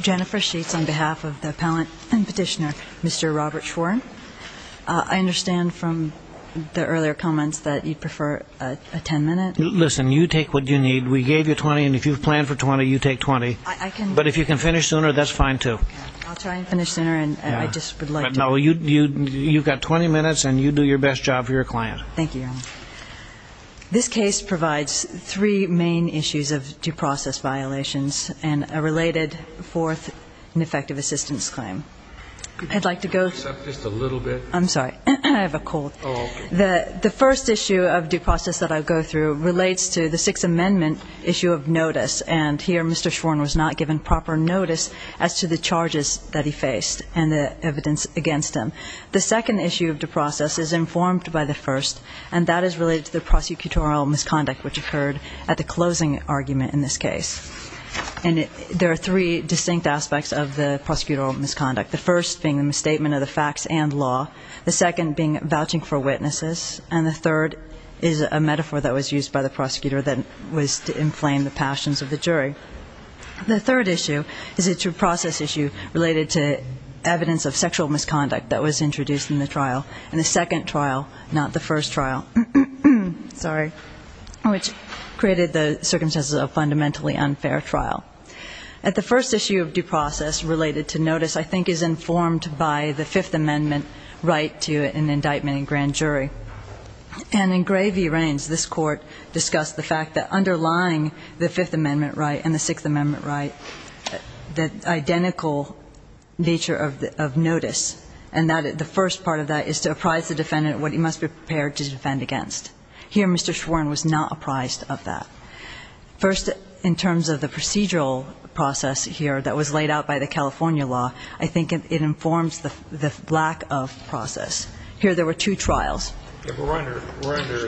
Jennifer Sheets on behalf of the Appellant and Petitioner, Mr. Robert Schwerin. I understand from the earlier comments that you'd prefer a ten-minute? Listen, you take what you need. We gave you twenty, and if you plan for twenty, you take twenty. I can But if you can finish sooner, that's fine, too. I'll try and finish sooner, and I just would like to No, you've got twenty minutes, and you do your best job for your client. Thank you, Your Honor. This case provides three main issues of due process violations and a related fourth ineffective assistance claim. I'd like to go Just a little bit I'm sorry. I have a cold. Oh, okay. The first issue of due process that I'll go through relates to the Sixth Amendment issue of notice, and here Mr. Schwerin was not given proper notice as to the charges that he faced and the evidence against him. The second issue of due process is informed by the first, and that is related to the prosecutorial misconduct which occurred at the closing argument in this case. And there are three distinct aspects of the prosecutorial misconduct, the first being the misstatement of the facts and law, the second being vouching for witnesses, and the third is a metaphor that was used by the prosecutor that was to inflame the passions of the jury. The third issue is a due process issue related to evidence of sexual misconduct that was introduced in the trial, and the second trial, not the first trial, which created the circumstances of a fundamentally unfair trial. At the first issue of due process related to notice I think is informed by the Fifth Amendment jury. And in Gray v. Raines this Court discussed the fact that underlying the Fifth Amendment right and the Sixth Amendment right, the identical nature of notice, and that the first part of that is to apprise the defendant what he must be prepared to defend against. Here Mr. Schwerin was not apprised of that. First in terms of the procedural process here that was laid out by the California law, I think there were two trials. But we're under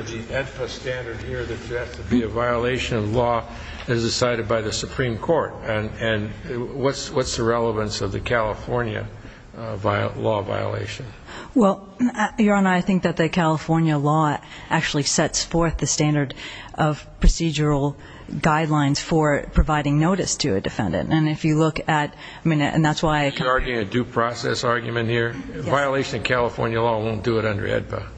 the ENPA standard here that there has to be a violation of law as decided by the Supreme Court. And what's the relevance of the California law violation? Well, Your Honor, I think that the California law actually sets forth the standard of procedural guidelines for providing notice to a defendant. And if you look at, I mean, and that's why I can't argue a due process argument here, a violation of California law won't do it under ENPA.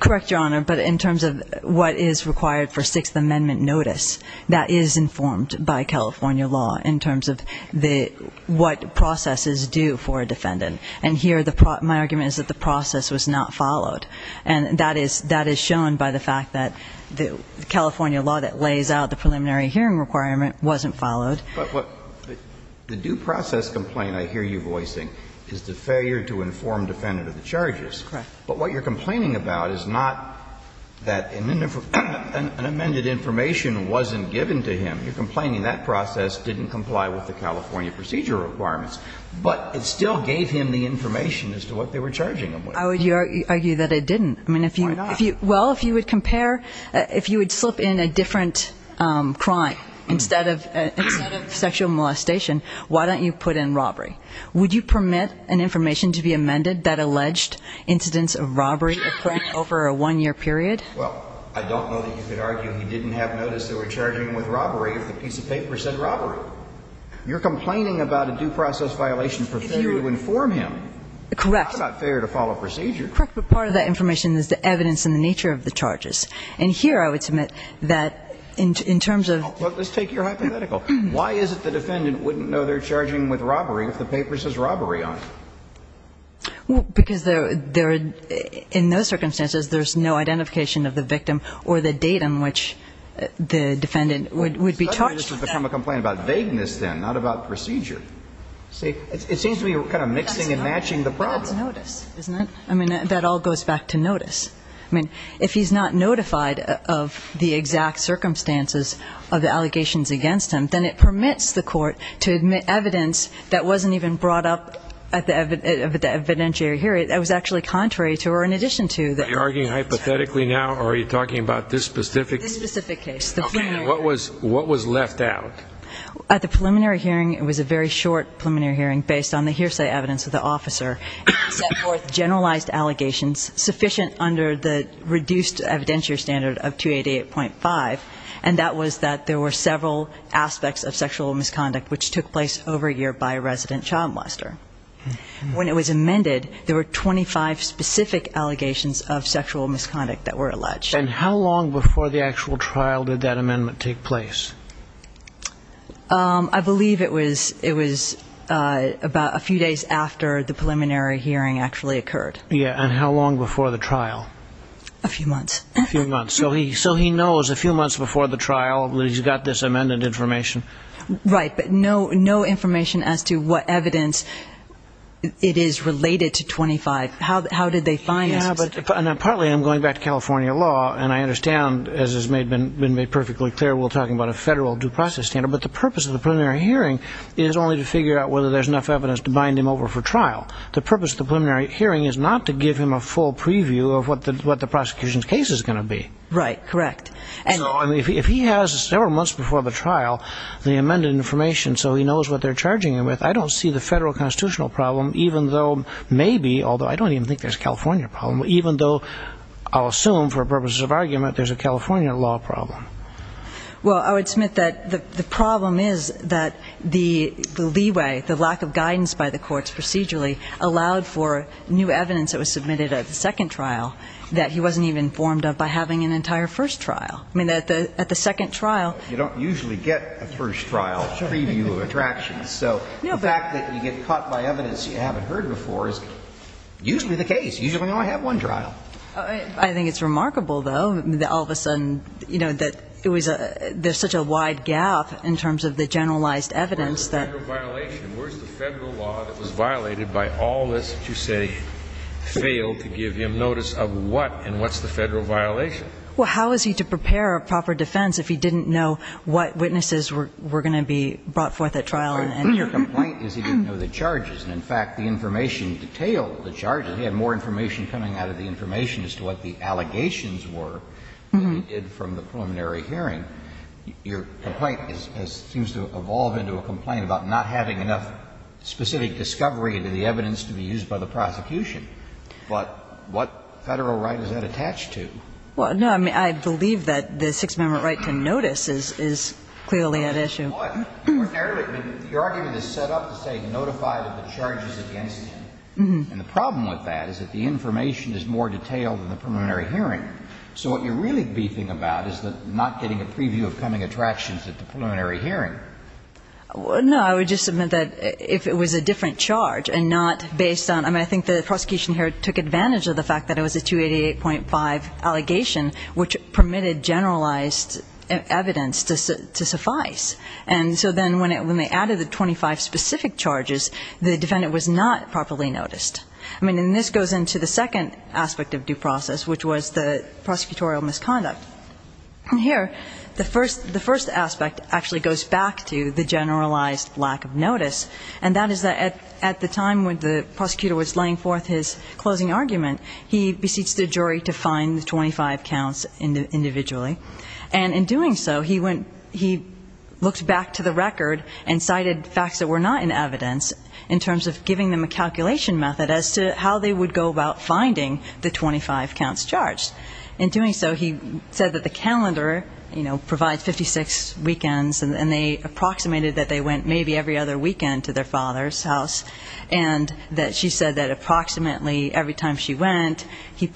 Correct, Your Honor. But in terms of what is required for Sixth Amendment notice, that is informed by California law in terms of what processes do for a defendant. And here my argument is that the process was not followed. And that is shown by the fact that the California law that lays out the preliminary hearing requirement wasn't followed. But what the due process complaint I hear you voicing is the failure to inform defendant of the charges. Correct. But what you're complaining about is not that an amended information wasn't given to him. You're complaining that process didn't comply with the California procedural requirements, but it still gave him the information as to what they were charging him with. I would argue that it didn't. Why not? Well, if you would compare, if you would slip in a different crime instead of sexual molestation, why don't you put in robbery? Would you permit an information to be amended that alleged incidents of robbery occurred over a one-year period? Well, I don't know that you could argue he didn't have notice they were charging him with robbery if the piece of paper said robbery. You're complaining about a due process violation for failure to inform him. Correct. It's not about failure to follow procedure. You're correct, but part of that information is the evidence and the nature of the charges. And here I would submit that in terms of Well, let's take your hypothetical. Why is it the defendant wouldn't know they're charging with robbery if the paper says robbery on it? Well, because they're, in those circumstances, there's no identification of the victim or the date on which the defendant would be charged. It's time to become a complaint about vagueness then, not about procedure. See, it seems to be kind of mixing and matching the problem. I mean, that all goes back to notice. I mean, if he's not notified of the exact circumstances of the allegations against him, then it permits the court to admit evidence that wasn't even brought up at the evidentiary hearing that was actually contrary to or in addition to the Are you arguing hypothetically now, or are you talking about this specific This specific case. Okay. What was left out? At the preliminary hearing, it was a very short preliminary hearing based on the It set forth generalized allegations sufficient under the reduced evidentiary standard of 288.5, and that was that there were several aspects of sexual misconduct which took place over a year by a resident child molester. When it was amended, there were 25 specific allegations of sexual misconduct that were alleged. And how long before the actual trial did that amendment take place? I believe it was it was about a few days after the preliminary hearing actually occurred. Yeah. And how long before the trial? A few months. A few months. So he so he knows a few months before the trial, he's got this amended information. Right. But no, no information as to what evidence it is related to 25. How did they find Yeah, but partly I'm going back to California law. And I understand, as has made been made perfectly clear, we're talking about a federal due process standard. But the purpose of the preliminary hearing is only to figure out whether there's enough evidence to bind him over for trial. The purpose of the preliminary hearing is not to give him a full preview of what the prosecution's case is going to be. Right. Correct. So, I mean, if he has several months before the trial the amended information so he knows what they're charging him with, I don't see the federal constitutional problem, even though maybe, although I don't even think there's a California problem, even though I'll assume for purposes of argument there's a California law problem. Well, I would submit that the problem is that the leeway, the lack of guidance by the courts procedurally allowed for new evidence that was submitted at the second trial that he wasn't even informed of by having an entire first trial. I mean, at the second trial You don't usually get a first trial preview of attractions. So the fact that you get caught by evidence you haven't heard before is usually the case. Usually you only have one trial. I think it's remarkable, though, that all of a sudden, you know, that it was a there's such a wide gap in terms of the generalized evidence that Where's the federal violation? Where's the federal law that was violated by all this that you say failed to give him notice of what and what's the federal violation? Well, how is he to prepare a proper defense if he didn't know what witnesses were going to be brought forth at trial and Your complaint is he didn't know the charges. In fact, the information detailed He had more information coming out of the information as to what the allegations were than he did from the preliminary hearing. Your complaint seems to evolve into a complaint about not having enough specific discovery into the evidence to be used by the prosecution. But what Federal right is that attached to? Well, no. I mean, I believe that the Sixth Amendment right to notice is clearly an issue. And the problem with that is that the information is more detailed than the preliminary hearing. So what you're really beefing about is that not getting a preview of coming attractions at the preliminary hearing. Well, no. I would just submit that if it was a different charge and not based on I mean, I think the prosecution here took advantage of the fact that it was a 288.5 allegation which permitted generalized evidence to suffice. And so then when they added the 25 specific charges, the defendant was not properly noticed. I mean, and this goes into the second aspect of due process, which was the prosecutorial misconduct. Here, the first aspect actually goes back to the generalized lack of notice. And that is that at the time when the prosecutor was laying forth his closing argument, he beseeched the jury to find the 25 counts individually. And in doing so, he went, he looked back to the record and cited facts that were not in evidence in terms of giving them a calculation method as to how they would go about finding the 25 counts charged. In doing so, he said that the calendar, you know, provides 56 weekends and they approximated that they went maybe every other weekend to their father's house. And that she said that approximately every time she went, he would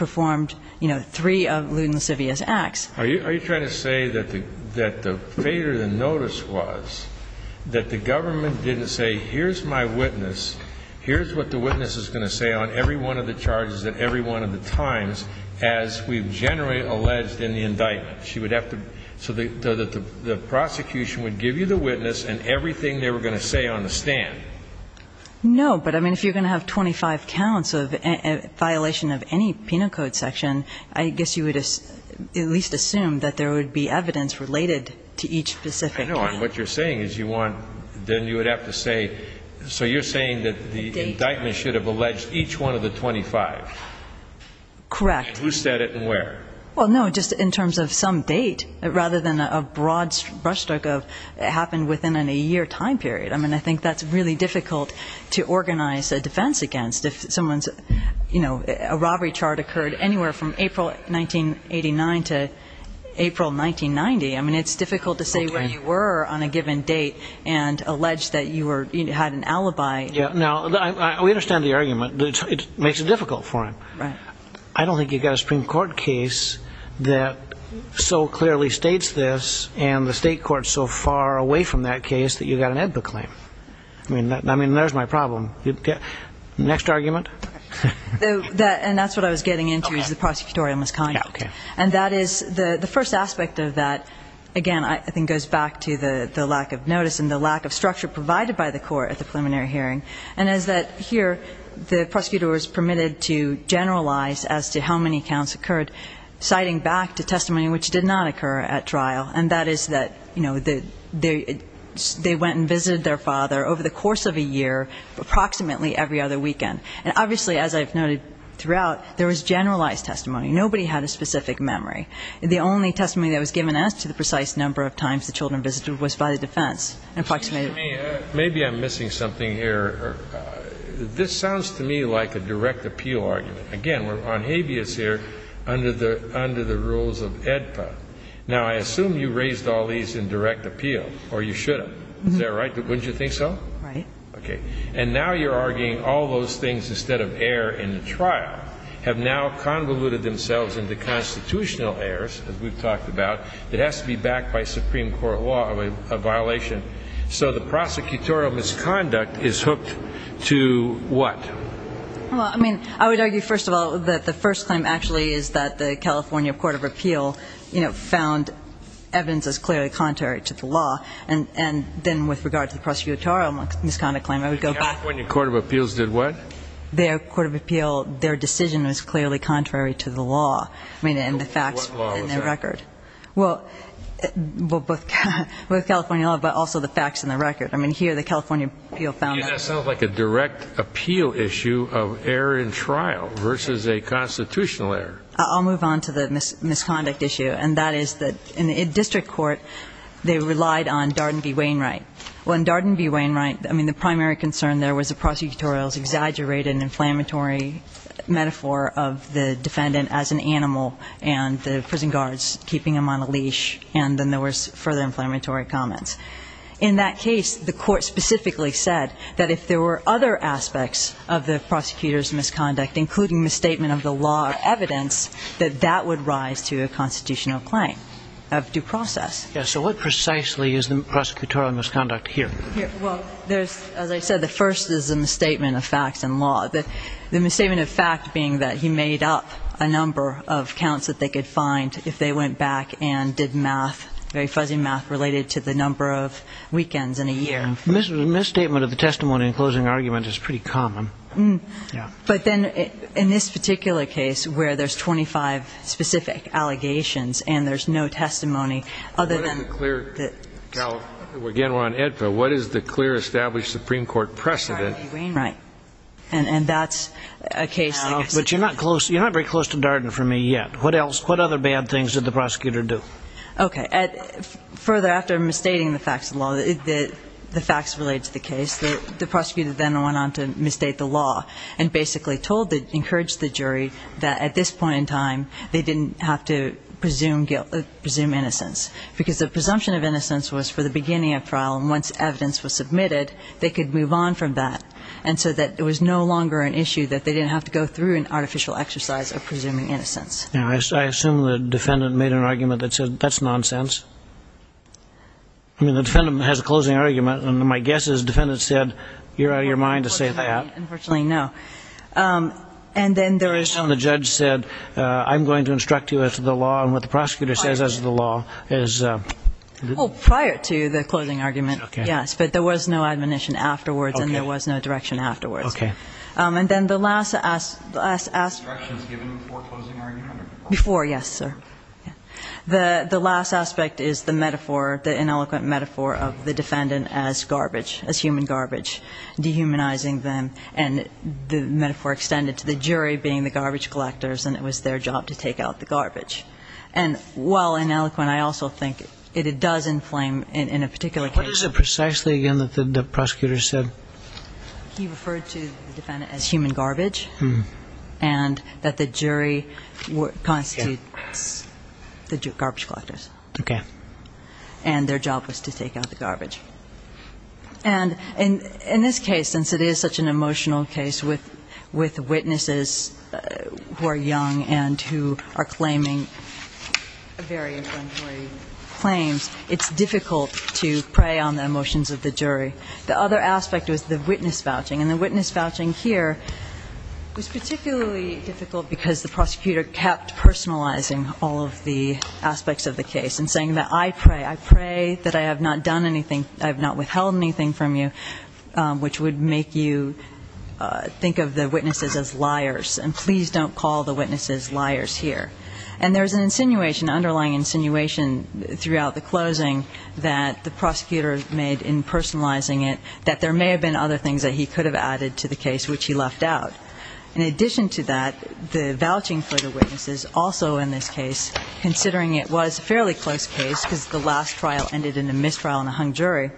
say, here's my witness, here's what the witness is going to say on every one of the charges at every one of the times, as we've generally alleged in the indictment. She would have to so that the prosecution would give you the witness and everything they were going to say on the stand. No, but I mean, if you're going to have 25 counts of violation of any penal code I assume that there would be evidence related to each specific. I know. And what you're saying is you want, then you would have to say, so you're saying that the indictment should have alleged each one of the 25. Correct. Who said it and where? Well, no, just in terms of some date rather than a broad brush stroke of it happened within a year time period. I mean, I think that's really difficult to organize a defense against if someone's, you know, a robbery chart occurred anywhere from April 1989 to April 1990. I mean, it's difficult to say where you were on a given date and allege that you had an alibi. Yeah, now, we understand the argument. It makes it difficult for him. Right. I don't think you've got a Supreme Court case that so clearly states this and the state court's so far away from that case that you've got an EBBA claim. I mean, there's my problem. Next argument? And that's what I was getting into is the prosecutorial misconduct. Yeah, okay. And that is the first aspect of that, again, I think goes back to the lack of notice and the lack of structure provided by the court at the preliminary hearing, and is that here the prosecutor was permitted to generalize as to how many counts occurred, citing back to testimony which did not occur at trial, and that is that, you know, they went and visited their father over the course of a year, approximately every other weekend. And obviously, as I've noted throughout, there was generalized testimony. Nobody had a specific memory. The only testimony that was given as to the precise number of times the children visited was by the defense. Maybe I'm missing something here. This sounds to me like a direct appeal argument. Again, we're on habeas here under the rules of EDPA. Now, I assume you raised all these in direct appeal, or you should have. Is that right? Wouldn't you think so? Right. Okay. And now you're arguing all those things instead of error in the trial have now convoluted themselves into constitutional errors, as we've talked about, that has to be backed by Supreme Court law of violation. So the prosecutorial misconduct is hooked to what? Well, I mean, I would argue, first of all, that the first claim actually is that the California Court of Appeal, you know, found evidence as clearly contrary to the law. And then with regard to the prosecutorial misconduct claim, I would go back. The California Court of Appeals did what? Their Court of Appeal, their decision was clearly contrary to the law. I mean, and the facts were in their record. What law was that? Well, both California law, but also the facts and the record. I mean, here the California Appeal found that. That sounds like a direct appeal issue of error in trial versus a constitutional error. I'll move on to the misconduct issue. And that is that in the district court, they relied on Darden v. Wainwright. Well, in Darden v. Wainwright, I mean, the primary concern there was the prosecutorial's exaggerated inflammatory metaphor of the defendant as an animal and the prison guards keeping him on a leash, and then there was further inflammatory comments. In that case, the court specifically said that if there were other aspects of the prosecutor's misconduct, including misstatement of the law or evidence, that that would rise to a constitutional claim of due process. Yes. So what precisely is the prosecutorial misconduct here? Well, there's, as I said, the first is a misstatement of facts and law. The misstatement of fact being that he made up a number of counts that they could find if they went back and did math, very fuzzy math, related to the number of weekends in a year. Misstatement of the testimony and closing argument is pretty common. Yeah. But then in this particular case where there's 25 specific allegations and there's no testimony other than... What is the clear... Again, we're on AEDPA. What is the clear established Supreme Court precedent? Darden v. Wainwright. Right. And that's a case... But you're not very close to Darden for me yet. What other bad things did the prosecutor do? Okay. Further, after misstating the facts of the law, the facts related to the case, the prosecutor then went on to misstate the law and basically told, encouraged the jury that at this point in time they didn't have to presume innocence because the presumption of innocence was for the beginning of trial, and once evidence was submitted, they could move on from that, and so that it was no longer an issue that they didn't have to go through an artificial exercise of presuming innocence. I assume the defendant made an argument that said that's nonsense. I mean, the defendant has a closing argument, and my guess is the defendant said, you're out of your mind to say that. Unfortunately, no. And then there was... And the judge said, I'm going to instruct you as to the law, and what the prosecutor says as to the law is... Well, prior to the closing argument, yes, but there was no admonition afterwards, and there was no direction afterwards. Okay. And then the last... The last instruction was given before closing argument? Before, yes, sir. The last aspect is the metaphor, the ineloquent metaphor of the defendant as garbage, as human garbage, dehumanizing them, and the metaphor extended to the jury being the garbage collectors, and it was their job to take out the garbage. And while ineloquent, I also think it does inflame in a particular case... What is it precisely, again, that the prosecutor said? Okay. And their job was to take out the garbage. And in this case, since it is such an emotional case with witnesses who are young and who are claiming very inflammatory claims, it's difficult to prey on the emotions of the jury. The other aspect was the witness vouching, and the witness vouching here was particularly difficult because the prosecutor kept personalizing all of the aspects of the case and saying that, I pray, I pray that I have not done anything, I have not withheld anything from you, which would make you think of the witnesses as liars, and please don't call the witnesses liars here. And there's an insinuation, underlying insinuation throughout the closing that the prosecutor made in personalizing it that there may have been other things that he could have added to the case which he left out. In addition to that, the vouching for the witnesses, also in this case, considering it was a fairly close case because the last trial ended in a mistrial and a hung jury,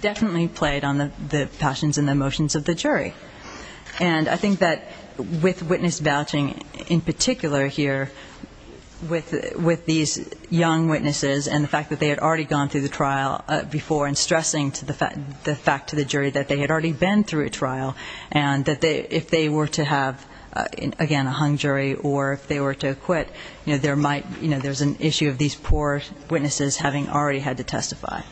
definitely played on the passions and the emotions of the jury. And I think that with witness vouching, in particular here, with these young witnesses and the fact that they had already gone through the trial before and stressing the fact to the jury that they had already been through a trial and that if they were to have, again, a hung jury or if they were to quit, you know, there might, you know, there's an issue of these poor witnesses having already had to testify.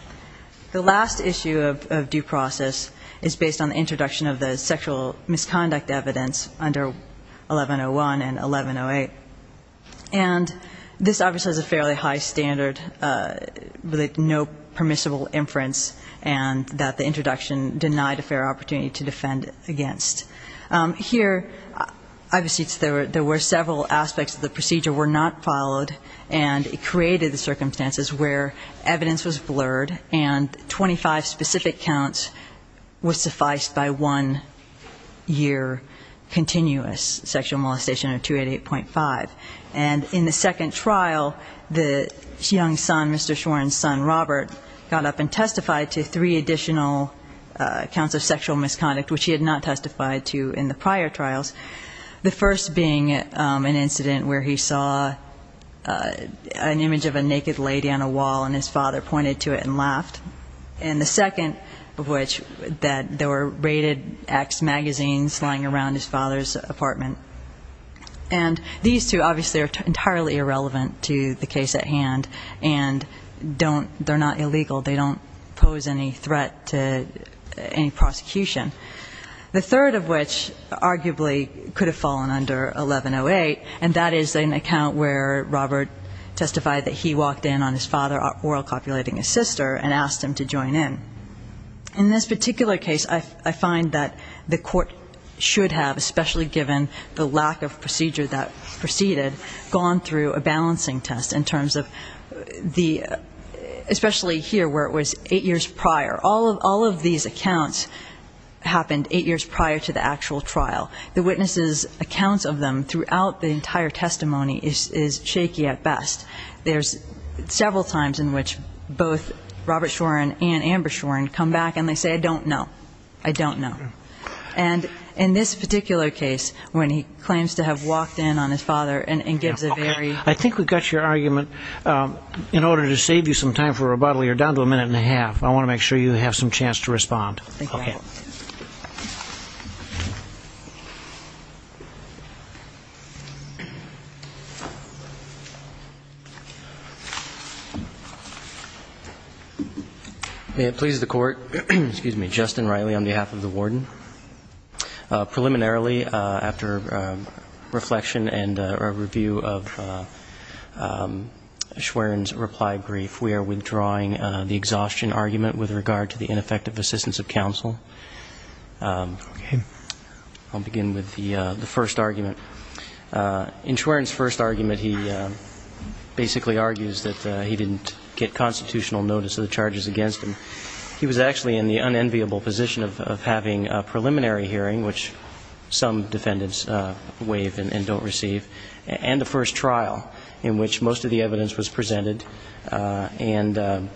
The last issue of due process is based on the introduction of the sexual misconduct evidence under 1101 and 1108. And this obviously has a fairly high standard with no permissible inference and that the introduction denied a fair opportunity to defend against. Here, obviously there were several aspects of the procedure were not followed and it created the circumstances where evidence was blurred and 25 specific counts was sufficed by one year continuous sexual molestation of 288.5. And in the second trial, the young son, Mr. Shorin's son, Robert, got up and testified to three additional counts of sexual misconduct, which he had not testified to in the prior trials. The first being an incident where he saw an image of a naked lady on a wall and his father pointed to it and laughed. And the second of which that there were raided X magazines lying around his father's apartment. And these two obviously are entirely irrelevant to the case at hand and don't, they're not illegal. They don't pose any threat to any prosecution. The third of which arguably could have fallen under 1108, and that is an account where Robert testified that he walked in on his father oral copulating his sister and asked him to join in. In this particular case, I find that the court should have, especially given the lack of procedure that preceded, gone through a balancing test in terms of the, especially here where it was eight years prior. All of these accounts happened eight years prior to the actual trial. The witnesses' accounts of them throughout the entire testimony is shaky at best. There's several times in which both Robert Shorin and Amber Shorin come back and they say, I don't know. I don't know. And in this particular case, when he claims to have walked in on his father and gives a very... I think we've got your argument. In order to save you some time for rebuttal, you're down to a minute and a half. I want to make sure you have some chance to respond. Thank you. Thank you. May it please the Court. Excuse me. Justin Riley on behalf of the Warden. Preliminarily, after reflection and review of Shorin's reply brief, we are withdrawing the exhaustion argument with regard to the ineffective assistance of counsel. Okay. I'll begin with the first argument. In Shorin's first argument, he basically argues that he didn't get constitutional notice of the charges against him. He was actually in the unenviable position of having a preliminary hearing, which some defendants waive and don't receive, and the first trial in which most of the evidence was presented. And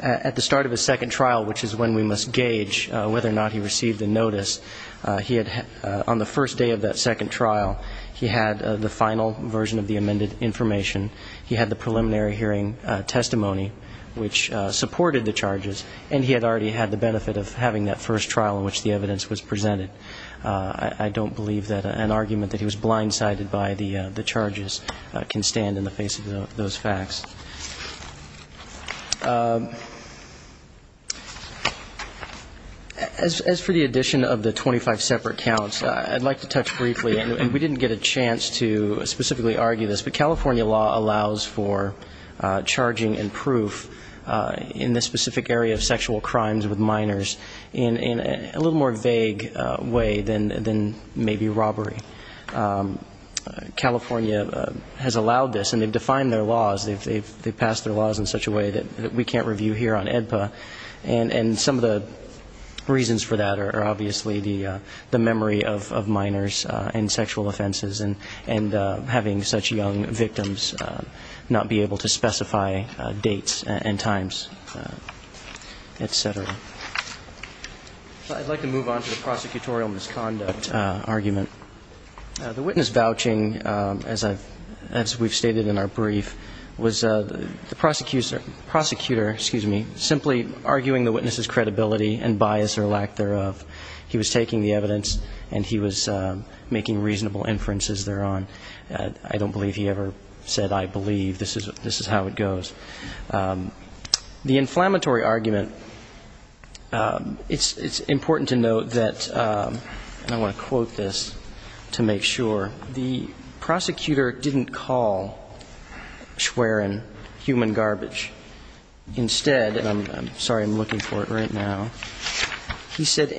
at the start of his second trial, which is when we must gauge whether or not he received the notice, on the first day of that second trial, he had the final version of the amended information. He had the preliminary hearing testimony, which supported the charges, and he had already had the benefit of having that first trial in which the evidence was presented. I don't believe that an argument that he was blindsided by the charges can stand in the face of those facts. As for the addition of the 25 separate counts, I'd like to touch briefly, and we didn't get a chance to specifically argue this, but California law allows for charging and proof in the specific area of sexual crimes with minors in a little more vague way than maybe robbery. California has allowed this, and they've defined their laws. They've passed their laws in such a way that we can't review here on AEDPA, and some of the reasons for that are obviously the memory of minors and sexual offenses and having such young victims not be able to specify dates and times, et cetera. So I'd like to move on to the prosecutorial misconduct argument. The witness vouching, as we've stated in our brief, was the prosecutor simply arguing the witness's credibility and bias or lack thereof. He was taking the evidence, and he was making reasonable inferences thereon. I don't believe he ever said, I believe. This is how it goes. The inflammatory argument, it's important to note that, and I want to quote this to make sure, the prosecutor didn't call Schwerin human garbage. Instead, and I'm sorry, I'm looking for it right now. He said,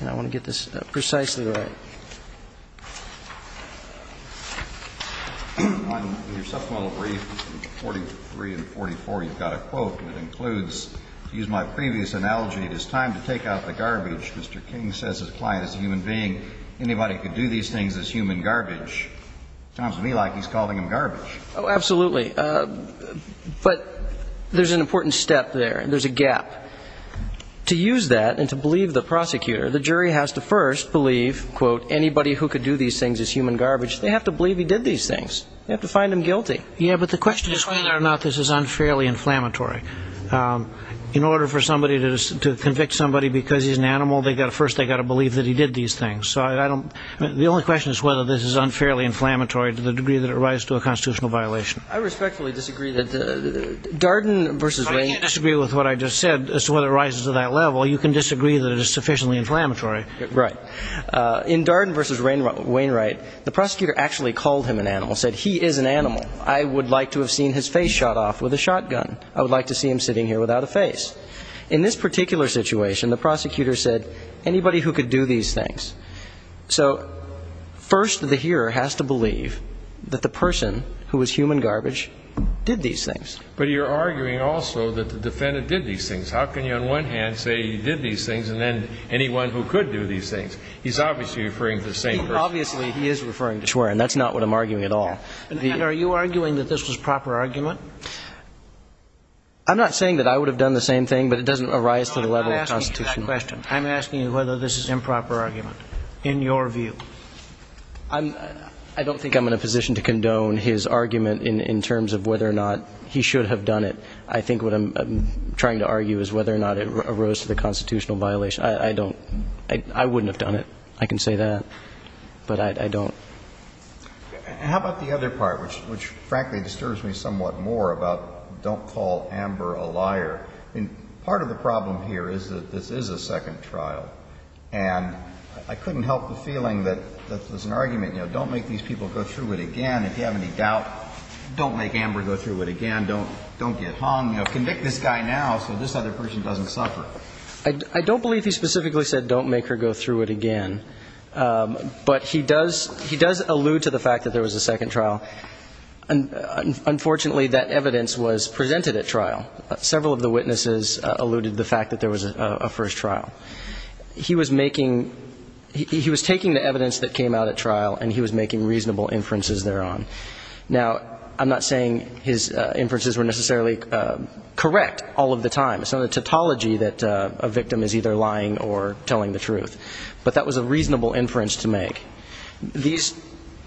and I want to get this precisely right. In your supplemental brief, 43 and 44, you've got a quote that includes, to use my previous analogy, it is time to take out the garbage. Mr. King says his client is a human being. Anybody who could do these things is human garbage. Sounds to me like he's calling him garbage. Oh, absolutely. But there's an important step there. There's a gap. To use that and to believe the prosecutor, the jury has to first believe, quote, anybody who could do these things is human garbage. They have to believe he did these things. They have to find him guilty. Yeah, but the question is whether or not this is unfairly inflammatory. In order for somebody to convict somebody because he's an animal, first they've got to believe that he did these things. The only question is whether this is unfairly inflammatory to the degree that it rises to a constitutional violation. I respectfully disagree that Darden versus Wainwright. I disagree with what I just said as to whether it rises to that level. You can disagree that it is sufficiently inflammatory. Right. In Darden versus Wainwright, the prosecutor actually called him an animal, said he is an animal. I would like to have seen his face shot off with a shotgun. I would like to see him sitting here without a face. In this particular situation, the prosecutor said anybody who could do these things. So first the hearer has to believe that the person who was human garbage did these things. But you're arguing also that the defendant did these things. How can you on one hand say he did these things and then anyone who could do these things? He's obviously referring to the same person. Obviously he is referring to Schwerin. That's not what I'm arguing at all. And are you arguing that this was proper argument? I'm not saying that I would have done the same thing, but it doesn't arise to the level of constitution. I'm not asking you that question. I'm asking you whether this is improper argument in your view. I don't think I'm in a position to condone his argument in terms of whether or not he should have done it. I think what I'm trying to argue is whether or not it arose to the constitutional violation. I don't. I wouldn't have done it. I can say that. But I don't. How about the other part, which frankly disturbs me somewhat more about don't call Amber a liar? Part of the problem here is that this is a second trial. And I couldn't help the feeling that there's an argument. Don't make these people go through it again. If you have any doubt, don't make Amber go through it again. Don't get hung. Convict this guy now so this other person doesn't suffer. I don't believe he specifically said don't make her go through it again. But he does allude to the fact that there was a second trial. Unfortunately, that evidence was presented at trial. Several of the witnesses alluded to the fact that there was a first trial. He was taking the evidence that came out at trial, and he was making reasonable inferences thereon. Now, I'm not saying his inferences were necessarily correct all of the time. It's not a tautology that a victim is either lying or telling the truth. But that was a reasonable inference to make. These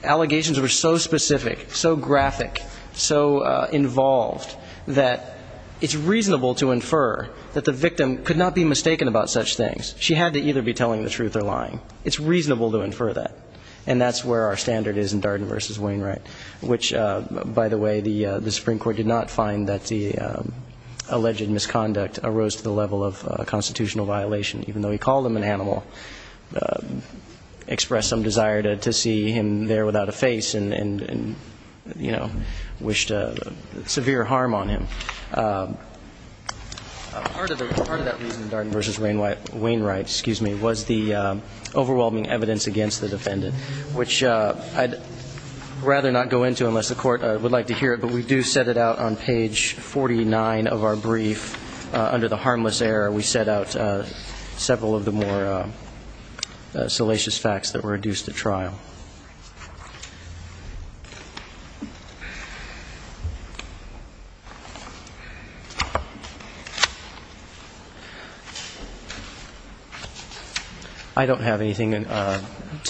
allegations were so specific, so graphic, so involved that it's reasonable to infer that the victim could not be mistaken about such things. She had to either be telling the truth or lying. It's reasonable to infer that. And that's where our standard is in Darden v. Wainwright, which, by the way, the Supreme Court did not find that the alleged misconduct arose to the level of a constitutional violation, even though he called him an animal, expressed some desire to see him there without a face, and, you know, wished severe harm on him. Part of that reason in Darden v. Wainwright was the overwhelming evidence against the defendant, which I'd rather not go into unless the Court would like to hear it. But we do set it out on page 49 of our brief. Under the harmless error, we set out several of the more salacious facts that were adduced at trial. I don't have anything to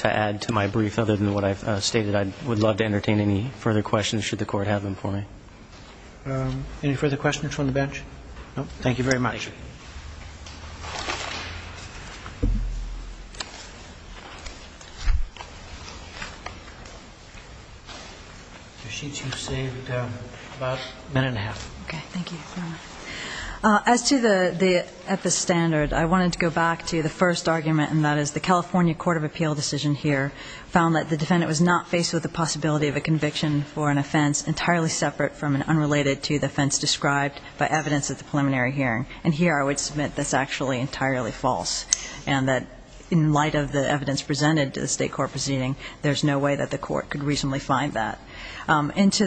add to my brief other than what I've stated. I would love to entertain any further questions should the Court have them for me. Any further questions from the bench? No. Thank you very much. Thank you. The sheets you've saved about a minute and a half. Okay. Thank you. As to the epistandard, I wanted to go back to the first argument, and that is the California Court of Appeal decision here found that the defendant was not faced with the possibility of a conviction for an offense entirely separate from and unrelated to the offense described by evidence at the preliminary hearing. And here I would submit that's actually entirely false, and that in light of the evidence presented to the State Court proceeding, there's no way that the Court could reasonably find that. As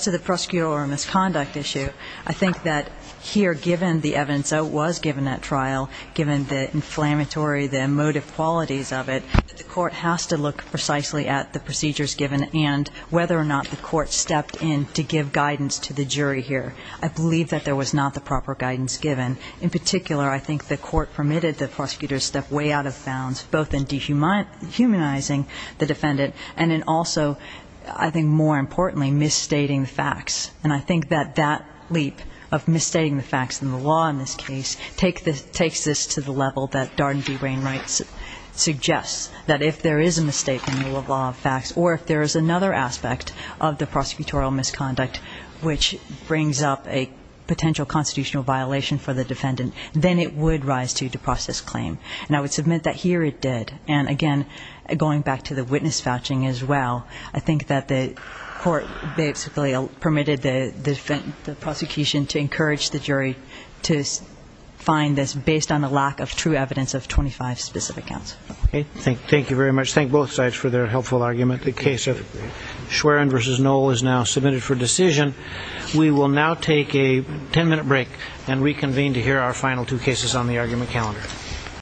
to the prosecutorial misconduct issue, I think that here, given the evidence that was given at trial, given the inflammatory, the emotive qualities of it, the Court has to look precisely at the procedures given and whether or not the Court stepped in to give guidance to the jury here. I believe that there was not the proper guidance given. In particular, I think the Court permitted the prosecutor to step way out of bounds, both in dehumanizing the defendant and in also, I think more importantly, misstating the facts. And I think that that leap of misstating the facts in the law in this case takes this to the level that Darden v. Wainwright suggests, that if there is a mistake in the rule of law of facts or if there is another aspect of the prosecutorial misconduct which brings up a potential constitutional violation for the defendant, then it would rise to depose this claim. And I would submit that here it did. And again, going back to the witness vouching as well, I think that the Court basically permitted the prosecution to encourage the jury to find this based on the lack of true evidence of 25 specific counts. Thank you very much. Thank both sides for their helpful argument. The case of Schwerin v. Knoll is now submitted for decision. We will now take a ten-minute break and reconvene to hear our final two cases on the argument calendar.